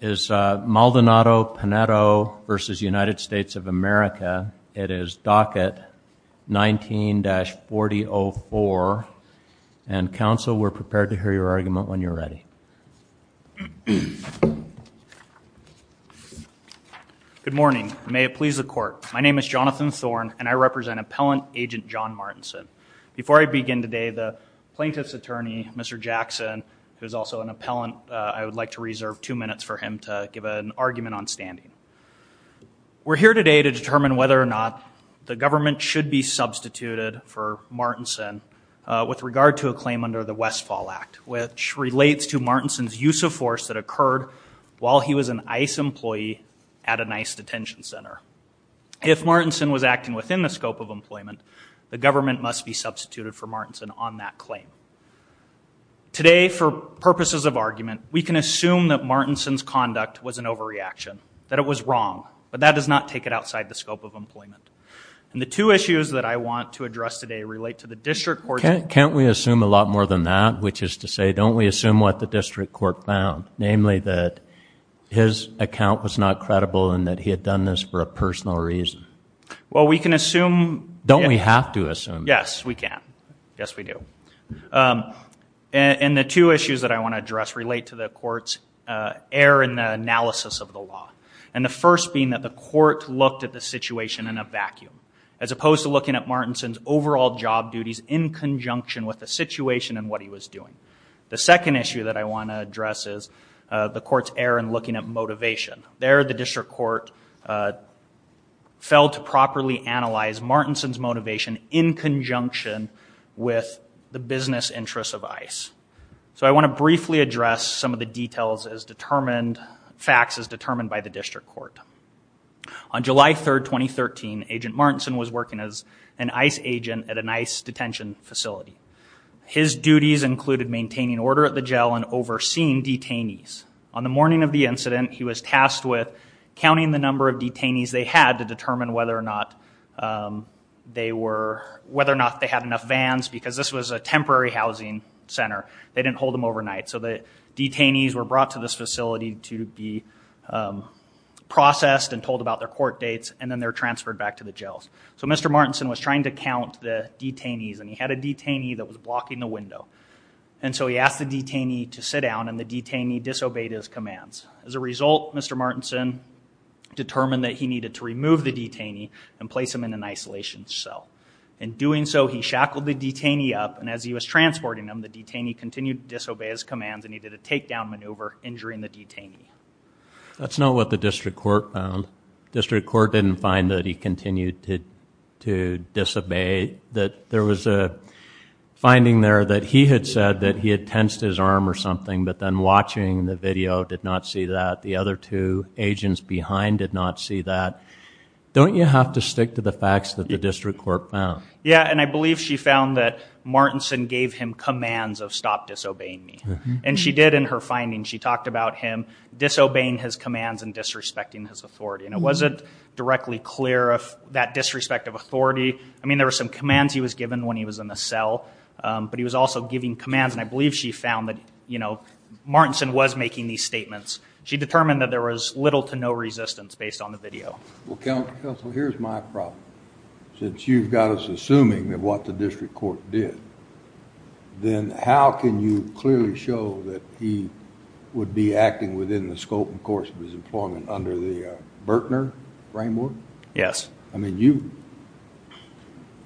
is Maldonado Pinedo v. United States of America. It is docket 19-4004. And counsel, we're prepared to hear your argument when you're ready. Good morning. May it please the court. My name is Jonathan Thorne and I represent Appellant Agent John Martinson. Before I begin today, the Plaintiff's Attorney, Mr. Jackson, who is also an appellant, I would like to reserve two minutes for him to give an argument on standing. We're here today to determine whether or not the government should be substituted for Martinson with regard to a claim under the Westfall Act, which relates to Martinson's use of force that occurred while he was an ICE employee at an ICE detention center. If Martinson was acting within the scope of employment, the government must be substituted for Martinson on that claim. Today, for purposes of argument, we can assume that Martinson's conduct was an overreaction, that it was wrong, but that does not take it outside the scope of employment. And the two issues that I want to address today relate to the district court. Can't we assume a lot more than that, which is to say, don't we assume what the district court found, namely that his account was not credible and that he had done this for a personal reason? Well, we can assume. Don't we have to assume? Yes, we can. Yes, we do. And the two issues that I want to address relate to the court's error in the analysis of the law. And the first being that the court looked at the situation in a vacuum, as opposed to looking at Martinson's overall job duties in conjunction with the situation and what he was doing. The second issue that I want to address is the court's error in looking at motivation. There, the district court failed to properly analyze Martinson's motivation in conjunction with the business interests of ICE. So I want to briefly address some of the details as determined, facts as determined by the district court. On July 3rd, 2013, Agent Martinson was working as an ICE agent at an ICE detention facility. His duties included maintaining order at the jail and overseeing detainees. On the morning of the incident, he was tasked with counting the number of detainees they had to determine whether or not they were, whether or not they had enough vans, because this was a temporary housing center. They didn't hold them overnight. So the detainees were brought to this facility to be processed and told about their court dates, and then they're transferred back to the jails. So Mr. Martinson was trying to count the detainees and he had a detainee that was blocking the window. And so he asked the detainee to sit down and the detainee disobeyed his commands. As a result, Mr. Martinson determined that he needed to take down the detainee and place him in an isolation cell. In doing so, he shackled the detainee up, and as he was transporting him, the detainee continued to disobey his commands and he did a takedown maneuver, injuring the detainee. That's not what the district court found. District court didn't find that he continued to disobey, that there was a finding there that he had said that he had tensed his arm or something, but then watching the video did not see that. The other two agents behind did not see that. Don't you have to stick to the facts that the district court found? Yeah, and I believe she found that Martinson gave him commands of stop disobeying me. And she did in her findings, she talked about him disobeying his commands and disrespecting his authority. And it wasn't directly clear if that disrespect of authority, I mean there were some commands he was given when he was in the cell, but he was also giving commands and I believe she found that, you know, Martinson was making these statements. She determined that there was little to no resistance based on the video. Well, Counselor, here's my problem. Since you've got us assuming what the district court did, then how can you clearly show that he would be acting within the scope and course of his employment under the Bertner framework? Yes. I mean,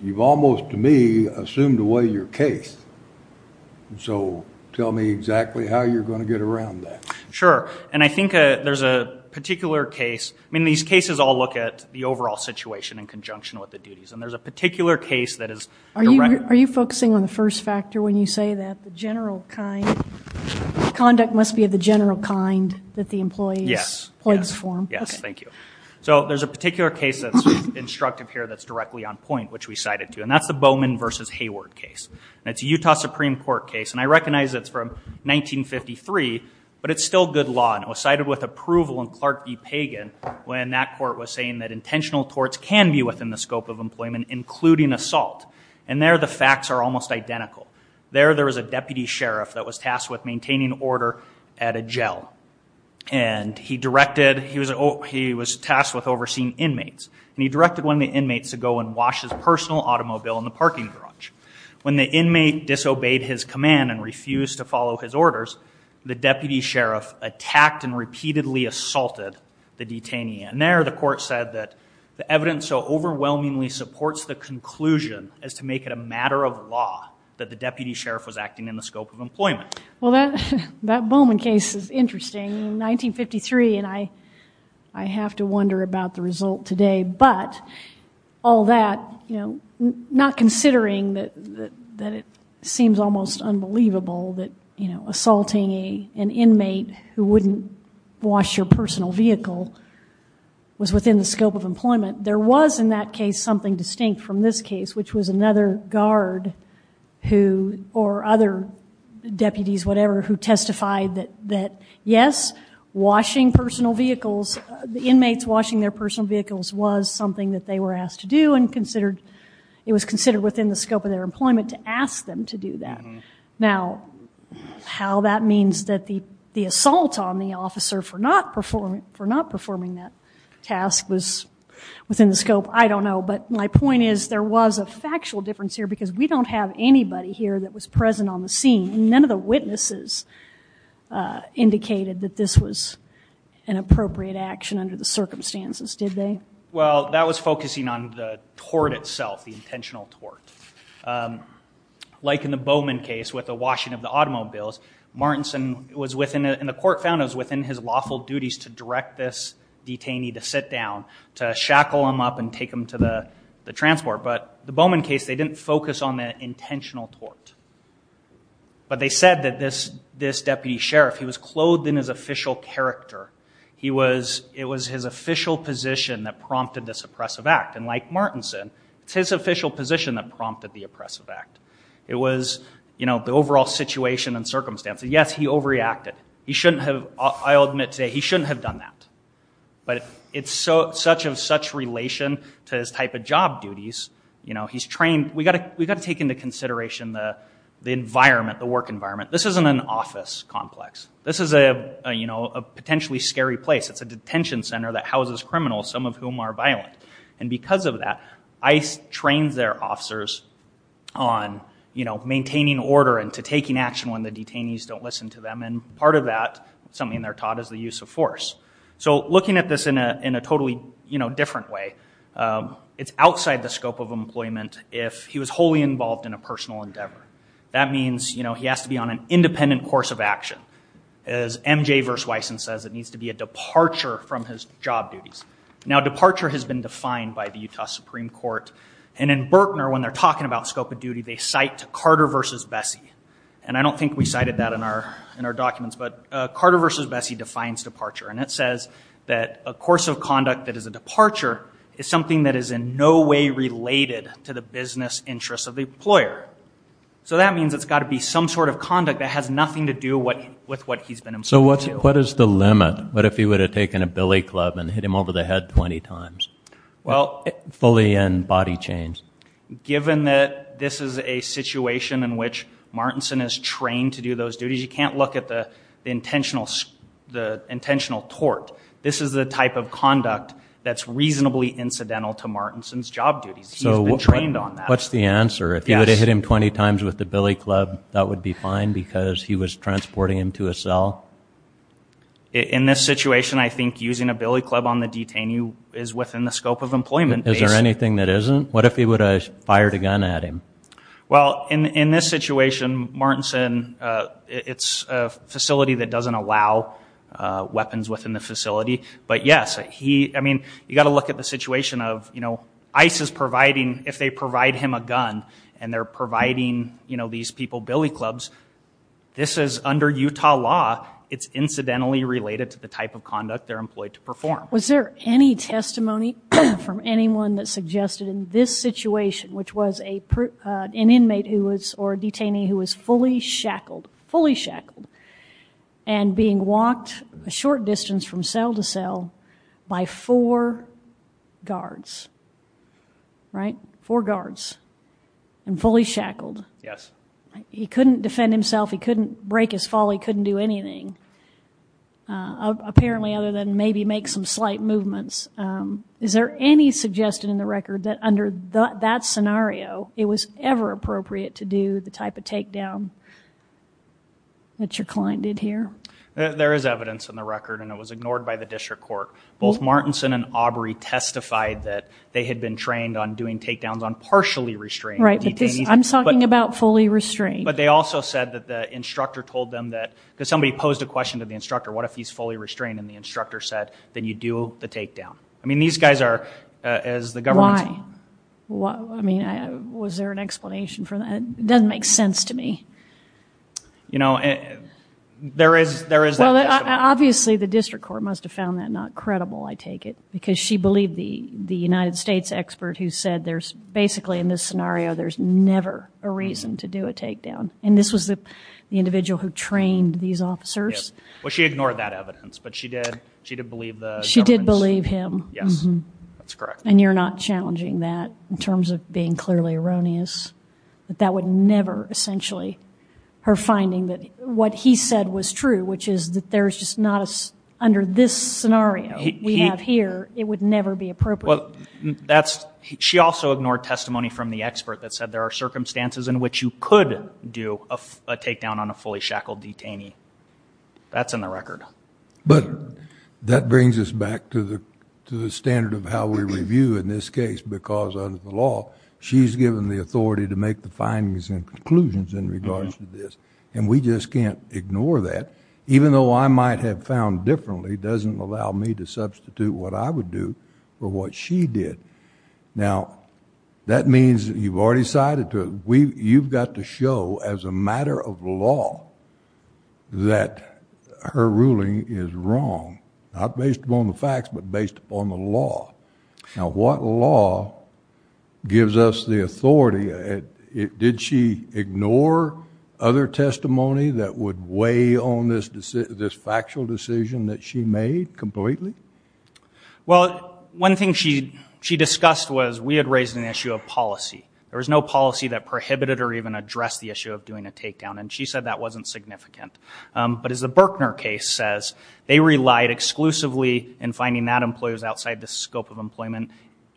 you've almost, to me, assumed away your case. So tell me exactly how you're going to get around that. Sure. And I think there's a particular case, I mean these cases all look at the overall situation in conjunction with the duties. And there's a particular case that is... Are you focusing on the first factor when you say that the general kind, conduct must be of the general kind that the employees... Yes. ...plugs for? Yes, thank you. So there's a particular case that's instructive here that's directly on point, which we cited to. And that's the Bowman v. Hayward case. And it's a Utah Supreme Court case. And I recognize it's from 1953, but it's still good law. And it was cited with approval in Clark v. Pagan when that court was saying that intentional torts can be within the scope of employment, including assault. And there the facts are almost identical. There there was a deputy sheriff that was tasked with maintaining order at a jail. And he directed, he was tasked with overseeing inmates. And he directed one of the inmates to go and wash his personal automobile in the parking garage. When the inmate disobeyed his command and refused to follow his orders, the deputy sheriff attacked and repeatedly assaulted the detainee. And there the court said that the evidence so overwhelmingly supports the conclusion as to make it a matter of law that the deputy sheriff was acting in the scope of employment. Well, that Bowman case is interesting. In 1953, and I have to wonder about the result today, but all that, you know, not considering that, that it seems almost unbelievable that, you know, assaulting a, an inmate who wouldn't wash your personal vehicle was within the scope of employment. There was in that case, something distinct from this case, which was another guard who, or other deputies, whatever, who testified that, that yes, washing personal vehicles, the inmates washing their personal vehicles was something that they were asked to do and considered, it was considered within the scope of their employment to ask them to do that. Now, how that means that the, the assault on the officer for not performing, for not performing that task was within the scope, I don't know. But my point is there was a factual difference here because we don't have anybody here that was present on the witnesses indicated that this was an appropriate action under the circumstances, did they? Well, that was focusing on the tort itself, the intentional tort. Like in the Bowman case with the washing of the automobiles, Martinson was within, and the court found it was within his lawful duties to direct this detainee to sit down, to shackle him up and take him to the, the transport. But the Bowman case, they didn't focus on the intentional tort. But they said that this, this deputy sheriff, he was clothed in his official character. He was, it was his official position that prompted this oppressive act. And like Martinson, it's his official position that prompted the oppressive act. It was, you know, the overall situation and circumstances. Yes, he overreacted. He shouldn't have, I'll admit today, he shouldn't have done that. But it's so, such of such relation to his type of job duties, you know, he's trained, we got to, we got to take into consideration the, the environment, the work environment. This isn't an office complex. This is a, you know, a potentially scary place. It's a detention center that houses criminals, some of whom are violent. And because of that, ICE trains their officers on, you know, maintaining order and to taking action when the detainees don't listen to them. And part of that, something they're taught, is the use of force. So looking at this in a, in a totally, you know, different way, it's outside the scope of employment if he was wholly involved in a personal endeavor. That means, you know, he has to be on an independent course of action. As MJ vs. Wyson says, it needs to be a departure from his job duties. Now departure has been defined by the Utah Supreme Court. And in Berkner, when they're talking about scope of duty, they cite to Carter versus Bessie. And I don't think we cited that in our, in our documents, but Carter versus Bessie defines departure. And it says that a course of conduct that is a departure is something that is in no way related to the business interests of the employer. So that means it's got to be some sort of conduct that has nothing to do what, with what he's been involved in. So what's, what is the limit? What if he would have taken a billy club and hit him over the head 20 times? Well. Fully in body change. Given that this is a situation in which Martinson is trained to do those duties, you can't look at the intentional, the intentional tort. This is the type of conduct that's reasonably incidental to Martinson's job duties. He's been trained on that. What's the answer? If he would have hit him 20 times with the billy club, that would be fine because he was transporting him to a cell? In this situation, I think using a billy club on the detainee is within the scope of employment basis. Is there anything that isn't? What if he would have fired a gun at him? Well, in this situation, Martinson, it's a facility that doesn't allow weapons within the facility. But yes, he, I mean, you got to look at the situation of, you know, ICE is providing, if they provide him a gun and they're providing, you know, these people billy clubs, this is under Utah law. It's incidentally related to the type of conduct they're employed to perform. Was there any testimony from anyone that suggested in this situation, which was a, uh, an inmate who was, or a detainee who was fully shackled, fully shackled and being walked a short distance from cell to cell by four guards, right? Four guards and fully shackled. Yes. He couldn't defend himself. He couldn't break his fall. He couldn't do anything, uh, apparently other than maybe make some slight movements. Um, is there any suggestion in the record that under that scenario, it was ever appropriate to do the type of takedown that your client did here? There is evidence in the record and it was ignored by the district court. Both Martinson and Aubrey testified that they had been trained on doing takedowns on partially restrained detainees. I'm talking about fully restrained. But they also said that the instructor told them that, because somebody posed a question to the instructor, what if he's fully restrained and the instructor said, then you do the takedown. I mean, these guys are, uh, as the government... Why? Why? I mean, I, was there an explanation for that? It doesn't make sense to me. You know, there is, there is that... Obviously the district court must have found that not credible, I take it, because she believed the, the United States expert who said there's basically in this scenario, there's never a reason to do a takedown. And this was the individual who trained these officers. Well, she ignored that evidence, but she did, she did believe the government's... She did believe him. Yes, that's correct. And you're not challenging that in terms of being clearly erroneous. But that would never essentially, her finding that what he said was true, which is that there's just not a, under this scenario we have here, it would never be appropriate. Well, that's, she also ignored testimony from the expert that said there are circumstances in which you could do a, a takedown on a fully shackled detainee. That's in the record. But that brings us back to the, to the standard of how we review in this case, because under the law, she's given the authority to make the findings and conclusions in regards to this. And we just can't ignore that. Even though I might have found differently, doesn't allow me to substitute what I would do for what she did. Now, that means you've already cited to, we, you've got to show as a matter of law that her ruling is wrong. Not based upon the facts, but based upon the law. Now, what law gives us the authority? Did she ignore other testimony that would weigh on this, this factual decision that she made completely? Well, one thing she, she discussed was we had raised an issue of policy. There was no policy that prohibited or even addressed the issue of doing a takedown. And she said that wasn't significant. But as the Berkner case says, they relied exclusively in finding that employee was outside the scope of employment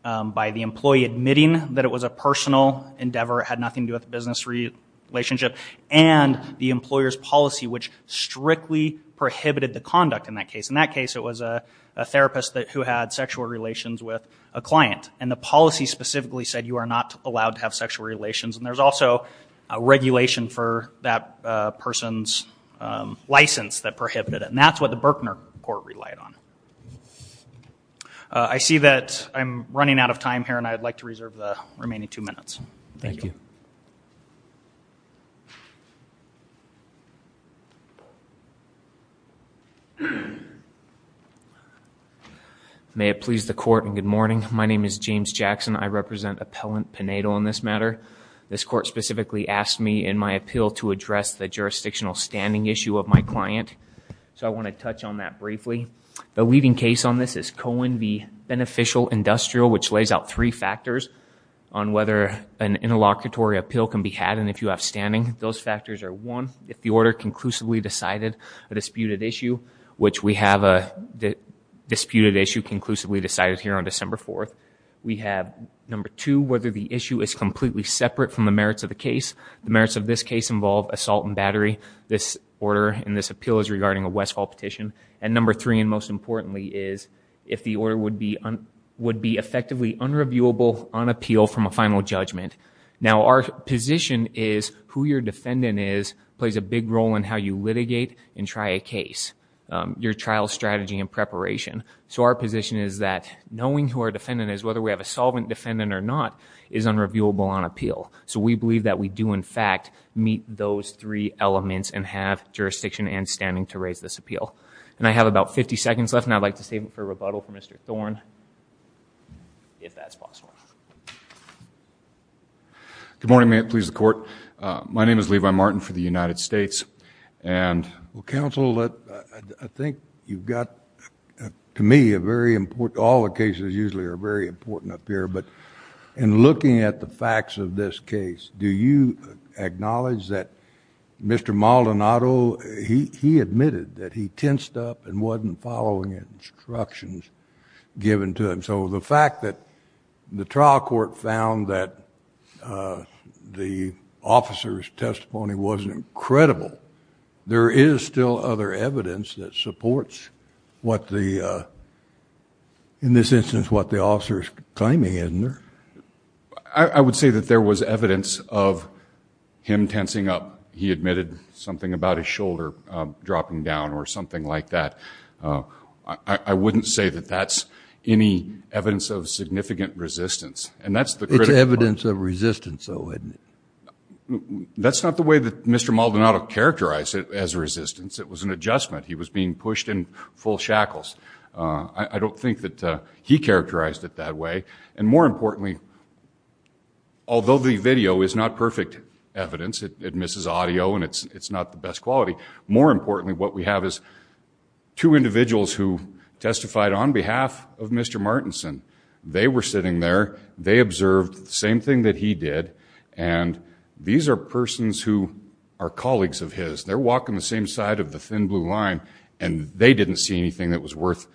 by the employee admitting that it was a personal endeavor, had nothing to do with the business relationship, and the employer's policy, which strictly prohibited the conduct in that case. In that case, it was a therapist that, who had sexual relations with a client. And the policy specifically said you are not allowed to have sexual relations. And there's also a regulation for that person's license that prohibited it. And that's what the Berkner court relied on. I see that I'm running out of time here, and I'd like to reserve the remaining two minutes. Thank you. May it please the court and good morning. My name is James Jackson. I represent Appellant Pinedo on this matter. This court specifically asked me in my appeal to address the jurisdictional standing issue of my client. So I want to touch on that briefly. The leading case on this is Cohen v. Beneficial Industrial, which lays out three factors on whether an interlocutory appeal can be had. And if you have standing, those factors are one, if the order conclusively decided a disputed issue, which we have a disputed issue conclusively decided here on December 4th. We have number two, whether the issue is completely separate from the merits of the case. The merits of this case involve assault and battery. This order and this appeal is regarding a Westfall petition. And number three, and most importantly, is if the order would be effectively unreviewable on appeal from a final judgment. Now our position is who your defendant is plays a big role in how you litigate and try a case, your trial strategy and preparation. So our position is that knowing who our defendant is, whether we have a solvent defendant or not, is unreviewable on appeal. So we believe that we do in fact meet those three elements and have jurisdiction and standing to raise this appeal. And I have about 50 seconds left, and I'd like to save it for rebuttal from Mr. Thorne, if that's possible. Good morning, may it please the court. My name is Levi Martin for the United States. And counsel, I think you've got, to me, a very important, all the cases usually are very important up here, but in looking at the facts of this case, do you acknowledge that Mr. Maldonado, he admitted that he tensed up and wasn't following instructions given to him. So the fact that the trial court found that the officer's testimony wasn't credible, but there is still other evidence that supports what the, in this instance, what the officer's claiming, isn't there? I would say that there was evidence of him tensing up. He admitted something about his shoulder dropping down or something like that. I wouldn't say that that's any evidence of significant resistance. And that's the critical part. It's evidence of resistance, though, isn't it? That's not the way that Mr. Maldonado characterized it as resistance. It was an adjustment. He was being pushed in full shackles. I don't think that he characterized it that way. And more importantly, although the video is not perfect evidence, it misses audio and it's not the best quality, more importantly, what we have is two individuals who testified on behalf of Mr. Martinson. They were sitting there, they observed the same thing that he did. And these are persons who are colleagues of his. They're walking the same side of the thin blue line and they didn't see anything that was worth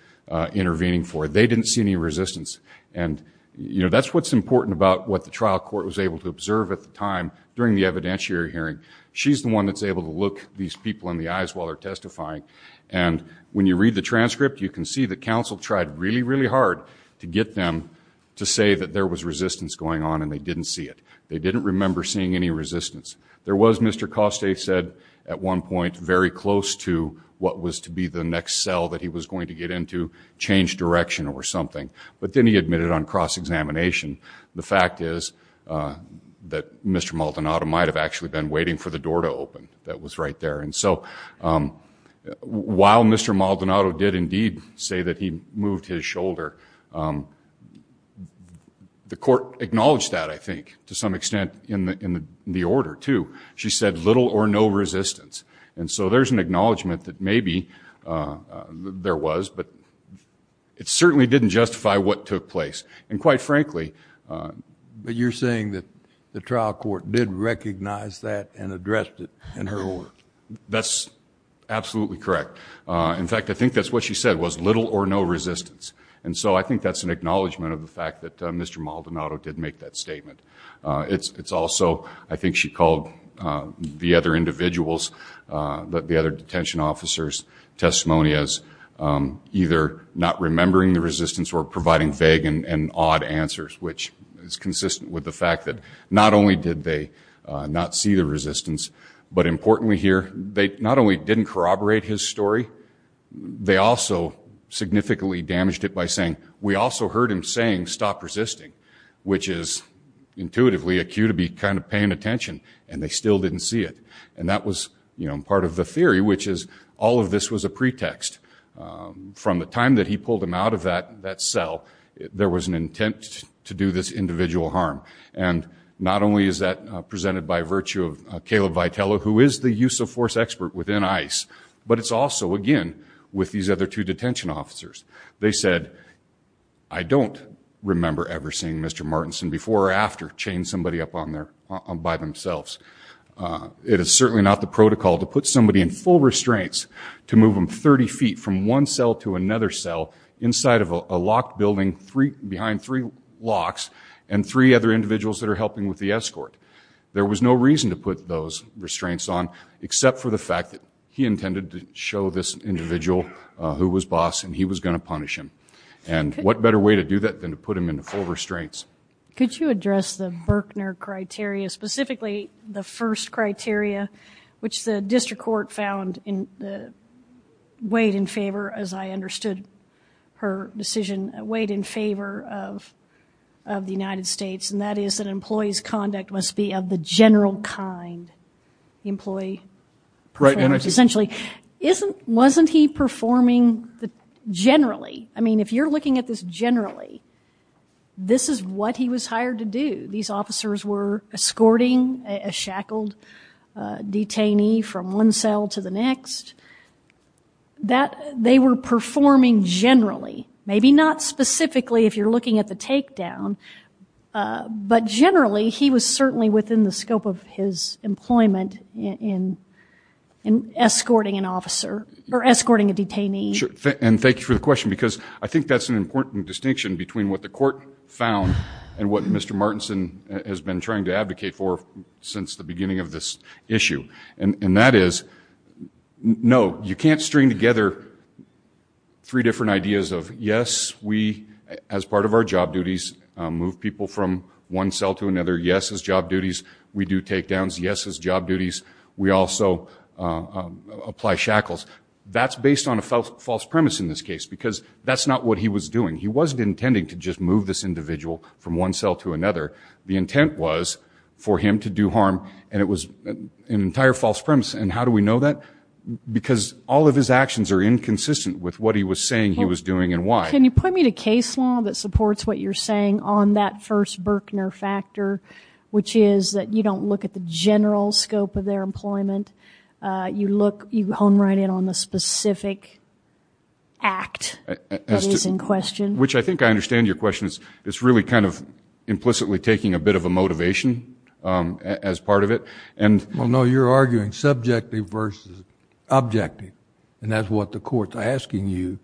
intervening for. They didn't see any resistance. And that's what's important about what the trial court was able to observe at the time during the evidentiary hearing. She's the one that's able to look these people in the eyes while they're testifying. And when you read the transcript, you can see that counsel tried really, really hard to get them to say that there was resistance going on and they didn't see it. They didn't remember seeing any resistance. There was, Mr. Coste said at one point, very close to what was to be the next cell that he was going to get into, change direction or something. But then he admitted on cross-examination, the fact is that Mr. Maldonado might have actually been waiting for the door to open that was right there. And so while Mr. Maldonado did indeed say that he moved his shoulder, the court acknowledged that, I think, to some extent in the order, too. She said little or no resistance. And so there's an acknowledgment that maybe there was, but it certainly didn't justify what took place. And quite frankly- But you're saying that the trial court did recognize that and addressed it in her words? That's absolutely correct. In fact, I think that's what she said was little or no resistance. And so I think that's an acknowledgment of the fact that Mr. Maldonado did make that statement. It's also, I think she called the other individuals, the other detention officers testimony as either not remembering the resistance or providing vague and odd answers, which is consistent with the fact that not only did they not see the resistance, but importantly here, they not only didn't corroborate his story, they also significantly damaged it by saying, we also heard him saying stop resisting, which is intuitively a cue to be kind of paying attention and they still didn't see it. And that was part of the theory, which is all of this was a pretext. From the time that he pulled him out of that cell, there was an intent to do this individual harm. And not only is that presented by virtue of Caleb Vitello, who is the use of force expert within ICE, but it's also again with these other two detention officers. They said, I don't remember ever seeing Mr. Martinson before or after chain somebody up on there by themselves. It is certainly not the protocol to put somebody in full restraints to move them 30 feet from one cell to another cell inside of a locked building, three behind three locks and three other individuals that are helping with the restraints on, except for the fact that he intended to show this individual who was boss and he was going to punish him. And what better way to do that than to put him into full restraints. Could you address the Berkner criteria, specifically the first criteria, which the district court found weighed in favor, as I understood her decision, weighed in favor of the United States and that is that an employee's conduct must be of the general kind. Employee, essentially, wasn't he performing generally? I mean, if you're looking at this generally, this is what he was hired to do. These officers were escorting a shackled detainee from one cell to the next. That, they were performing generally. Maybe not specifically if you're looking at the takedown, but generally he was certainly within the scope of his employment in escorting an officer or escorting a detainee. And thank you for the question, because I think that's an important distinction between what the court found and what Mr. Martinson has been trying to advocate for since the beginning of this issue. And that is, no, you can't string together three different ideas of, yes, we, as part of our job duties, move people from one cell to another. Yes, as job duties, we do takedowns. Yes, as job duties, we also apply shackles. That's based on a false premise in this case, because that's not what he was doing. He wasn't intending to just move this individual from one cell to another. The intent was for him to do harm and it was an entire false premise. And how do we know that? Because all of his actions are inconsistent with what he was saying he was doing and why. Can you point me to case law that supports what you're saying on that first Berkner factor, which is that you don't look at the general scope of their employment. You look, you hone right in on the specific act that is in question. Which I think I understand your question. It's really kind of implicitly taking a bit of a motivation as part of it. Well, no, you're arguing subjective versus objective. And that's what the court's asking you.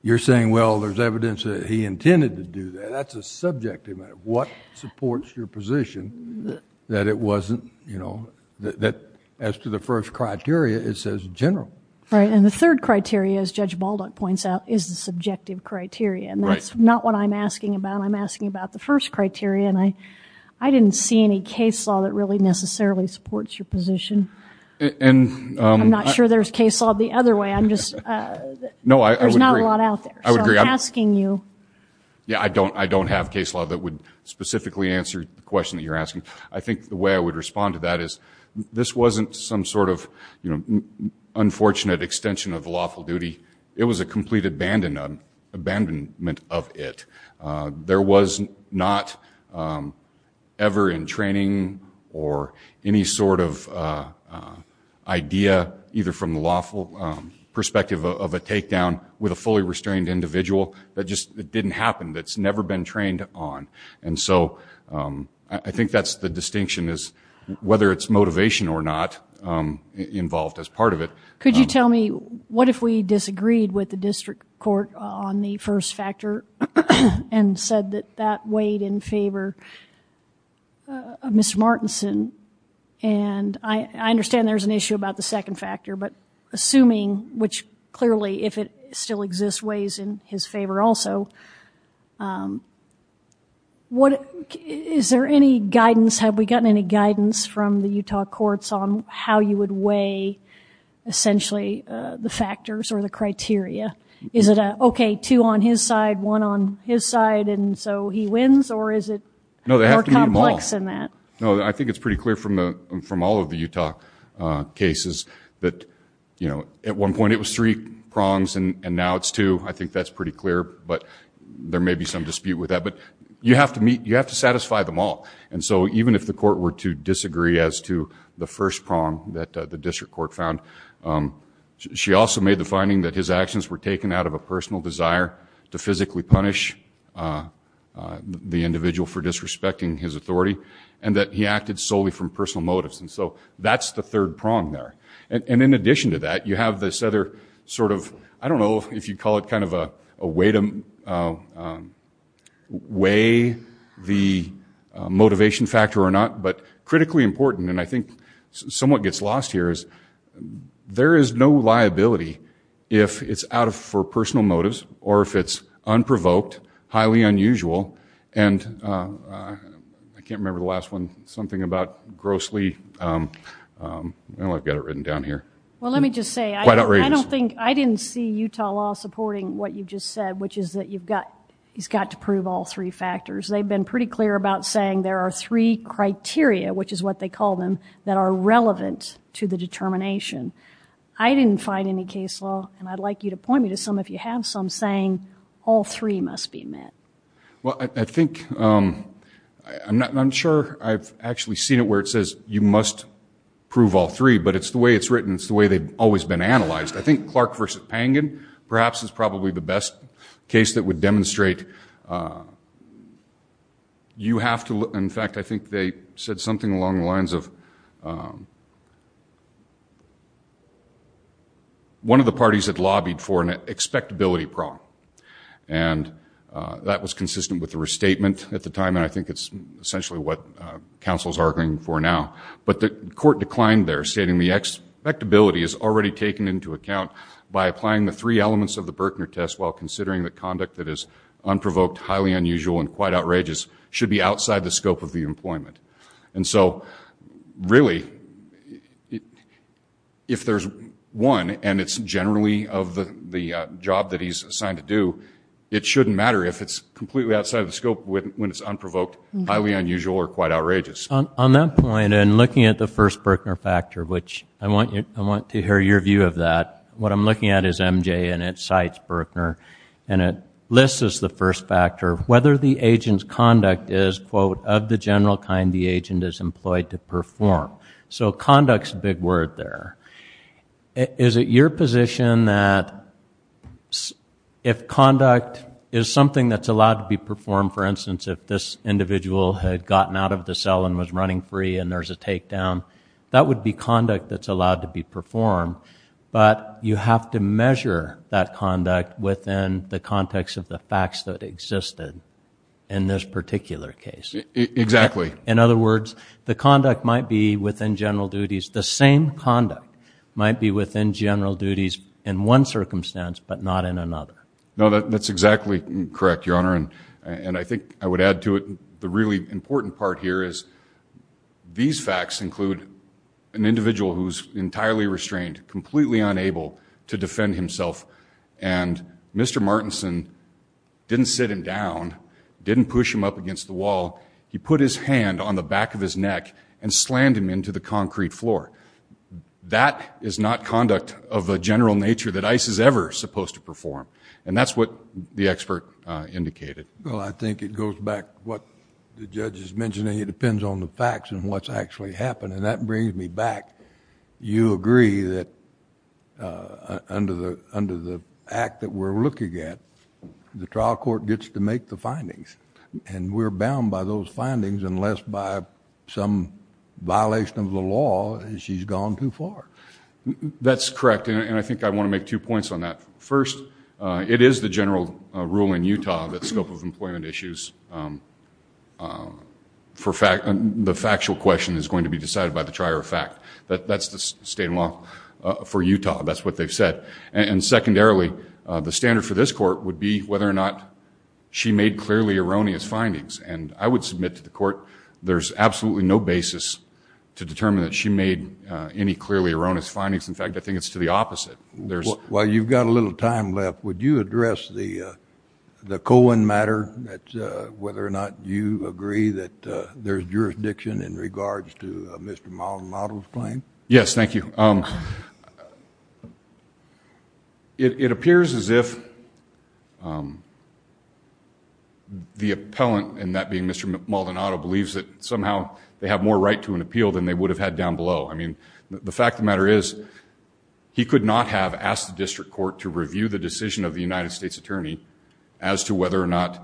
You're saying, well, there's evidence that he intended to do that. That's a subjective matter. What supports your position that it wasn't, you know, that as to the first criteria, it says general. Right. And the third criteria, as Judge Balduck points out, is the subjective criteria. And that's not what I'm asking about. I'm asking about the first criteria. And I didn't see any case law that really necessarily supports your position. And I'm not sure there's case law the other way. I'm just no, there's not a lot out there. I would be asking you. Yeah, I don't I don't have case law that would specifically answer the question that you're asking. I think the way I would respond to that is this wasn't some sort of, you know, unfortunate extension of lawful duty. It was a complete abandonment, abandonment of it. There was not ever in training or any sort of idea, either from the lawful perspective of a takedown with a fully restrained individual that just didn't happen, that's never been trained on. And so I think that's the distinction is whether it's motivation or not involved as part of it. Could you tell me what if we disagreed with the district court on the first factor and said that that weighed in favor of Mr. Martinson? And I understand there's an issue about the second factor, but assuming which clearly, if it still exists, weighs in his favor also. Is there any guidance? Have we gotten any guidance from the Utah courts on how you would weigh, essentially, the factors or the criteria? Is it a, okay, two on his side, one on his side, and so he wins? Or is it more complex than that? No, I think it's pretty clear from all of the Utah cases that, you know, at one point it was three prongs and now it's two. I think that's pretty clear, but there may be some dispute with that. But you have to meet, you have to satisfy them all. And so even if the district court found, she also made the finding that his actions were taken out of a personal desire to physically punish the individual for disrespecting his authority and that he acted solely from personal motives. And so that's the third prong there. And in addition to that, you have this other sort of, I don't know if you'd call it kind of a way to weigh the motivation factor or not, but critically important, and I think somewhat gets lost here, is there is no liability if it's out for personal motives or if it's unprovoked, highly unusual, and I can't remember the last one, something about grossly, I've got it written down here. Well, let me just say, I don't think, I didn't see Utah law supporting what you just said, which is that you've got, he's got to prove all three factors. They've been pretty clear about saying there are three criteria, which is what they call them, that are relevant to the determination. I didn't find any case law, and I'd like you to point me to some if you have some, saying all three must be met. Well, I think, I'm not, I'm sure I've actually seen it where it says you must prove all three, but it's the way it's written. It's the way they've always been analyzed. I think Clark v. Pangan perhaps is probably the best case that would demonstrate you have to, in fact, I think they said something along the lines of one of the parties had lobbied for an expectability prong, and that was consistent with the restatement at the time, and I think it's essentially what counsel's arguing for now, but the court declined there, stating the expectability is already taken into account by applying the three elements of the Berkner test while considering the conduct that is unprovoked, highly unusual, and quite outrageous should be outside the scope of the employment. And so, really, if there's one, and it's generally of the job that he's assigned to do, it shouldn't matter if it's completely outside the scope when it's unprovoked, highly unusual, or quite outrageous. On that point, and looking at the first Berkner factor, which I want to hear your view of that, what I'm looking at is MJ, and it cites Berkner, and it lists as the first factor whether the agent's conduct is, quote, of the general kind the agent is employed to perform. So conduct's a big word there. Is it your position that if conduct is something that's allowed to be performed, for instance, if this individual had gotten out of the cell and was running free and there's a takedown, that would be conduct that's allowed to be performed, but you have to measure that conduct within the context of the facts that existed in this particular case. Exactly. In other words, the conduct might be within general duties. The same conduct might be within general duties in one circumstance, but not in another. No, that's exactly correct, Your Honor, and I think I would add to it, the really important part here is these facts include an individual who's entirely restrained, completely unable to defend himself, and Mr. Martinson didn't sit him down, didn't push him up against the wall. He put his hand on the back of his neck and slammed him into the concrete floor. That is not conduct of a general nature that ICE is ever supposed to perform, and that's what the expert indicated. Well, I think it goes back to what the judge is mentioning. It depends on the facts and what's actually happened, and that brings me back. You agree that under the act that we're looking at, the trial court gets to make the findings, and we're bound by those findings unless by some violation of the law, and she's gone too far. That's correct, and I think I want to make two points on that. First, it is the general rule in Utah that scope of employment issues, the factual question is going to be decided by the trier of fact. That's the state law for Utah. That's what they've said, and secondarily, the standard for this court would be whether or not she made clearly erroneous findings, and I would submit to the court there's absolutely no basis to determine that she made any clearly erroneous findings. In fact, I think it's to the opposite. While you've got a little time left, would you address the Cohen matter, whether or not you agree that there's jurisdiction in regards to Mr. Maldonado's claim? Yes, thank you. It appears as if the appellant, and that being Mr. Maldonado, believes that somehow they have more right to an appeal than they would have had down below. I mean, the fact of the matter is he could not have asked the district court to review the decision of the United States Attorney as to whether or not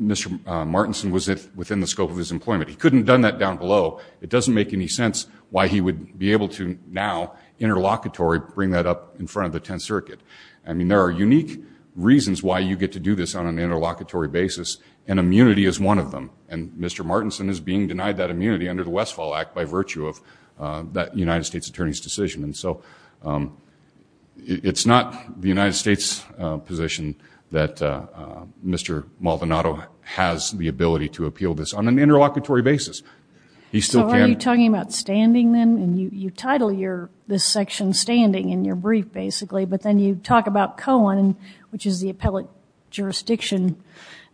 Mr. Martinson was within the scope of his employment. He couldn't have done that down below. It doesn't make any sense why he would be able to now, interlocutory, bring that up in front of the Tenth Circuit. I mean, there are unique reasons why you get to do this on an interlocutory basis, and immunity is one of them, and Mr. Martinson is being denied that immunity under the Westfall Act by virtue of that United States Attorney's decision. And so it's not the United States position that Mr. Maldonado has the ability to appeal this on an interlocutory basis. He still can't- So are you talking about standing, then? You title this section standing in your brief, basically, but then you talk about Cohen, which is the appellate jurisdiction,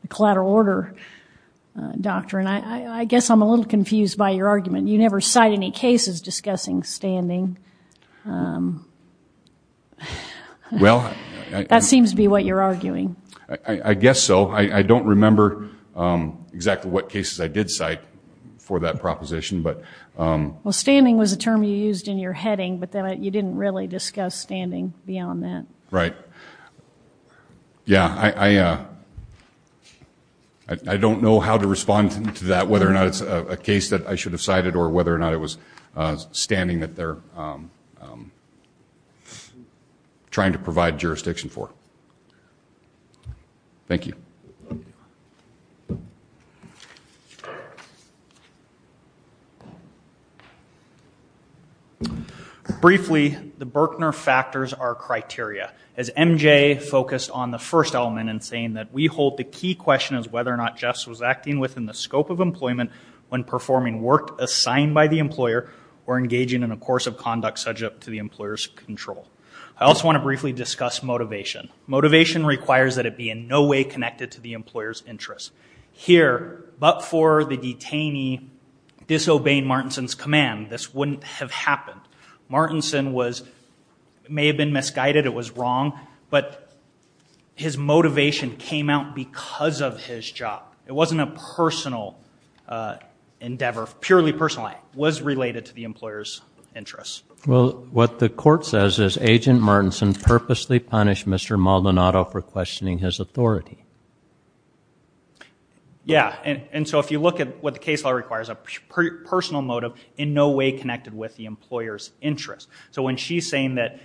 the collateral order doctrine. I guess I'm a little confused by your argument. You never cite any cases discussing standing. That seems to be what you're arguing. I guess so. I don't remember exactly what cases I did cite for that proposition, but- Well, standing was a term you used in your heading, but then you didn't really discuss standing beyond that. Right. Yeah, I don't know how to respond to that, whether or not it's a case that I should have cited, or whether or not it was standing that they're trying to provide jurisdiction for. Thank you. Briefly, the Berkner factors are criteria. As MJ focused on the first element in saying that we hold the key question as whether or not justice was acting within the scope of employment when performing work assigned by the employer or engaging in a course of conduct subject to the employer's control. I also want to briefly discuss motivation. Motivation requires that it be in no way connected to the employer's interests. Here, but for the detainee disobeying Martinson's command, this wouldn't have happened. Martinson may have been misguided, it was wrong, but his motivation came out because of his job. It wasn't a personal endeavor, purely personal. It was related to the employer's interests. Well, what the court says is Agent Martinson purposely punished Mr. Maldonado for questioning his authority. Yeah, and so if you look at what the case law requires, a personal motive in no way connected with the employer's interests. So when she's saying that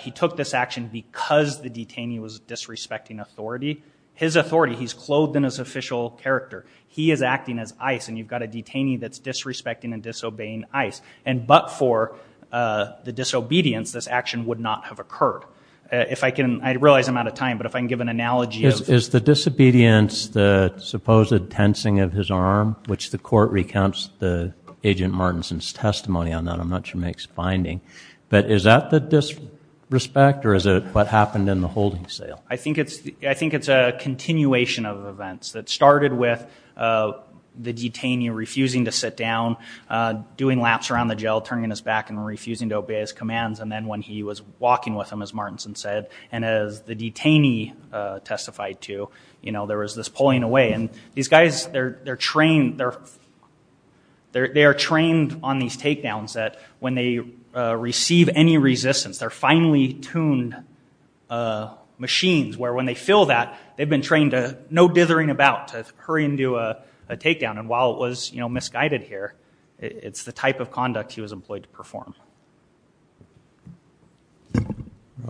he took this action because the detainee was disrespecting authority, his authority, he's clothed in his official character. He is acting as ICE, and you've got a detainee that's disrespecting and disobeying ICE, and but for the disobedience, this action would not have occurred. If I can, I realize I'm out of time, but if I can give an analogy. Is the disobedience the supposed tensing of his arm, which the court recounts the Agent Martinson's testimony on that. I'm not sure it makes a finding, but is that the disrespect or is it what happened in the holding cell? I think it's a continuation of events that started with the detainee refusing to sit down, doing laps around the jail, turning his back, and refusing to obey his commands, and then when he was walking with them, as Martinson said, and as the detainee testified to, there was this pulling away. And these guys, they're trained on these takedowns that when they receive any resistance, they're finely tuned machines, where when they feel that, they've been trained to no dithering about, to hurry and do a takedown. And while it was misguided here, it's the type of conduct he was employed to perform.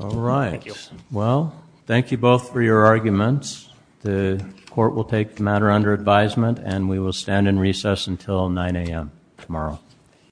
All right. Well, thank you both for your arguments. The court will take the matter under advisement and we will stand in recess until 9 a.m. tomorrow.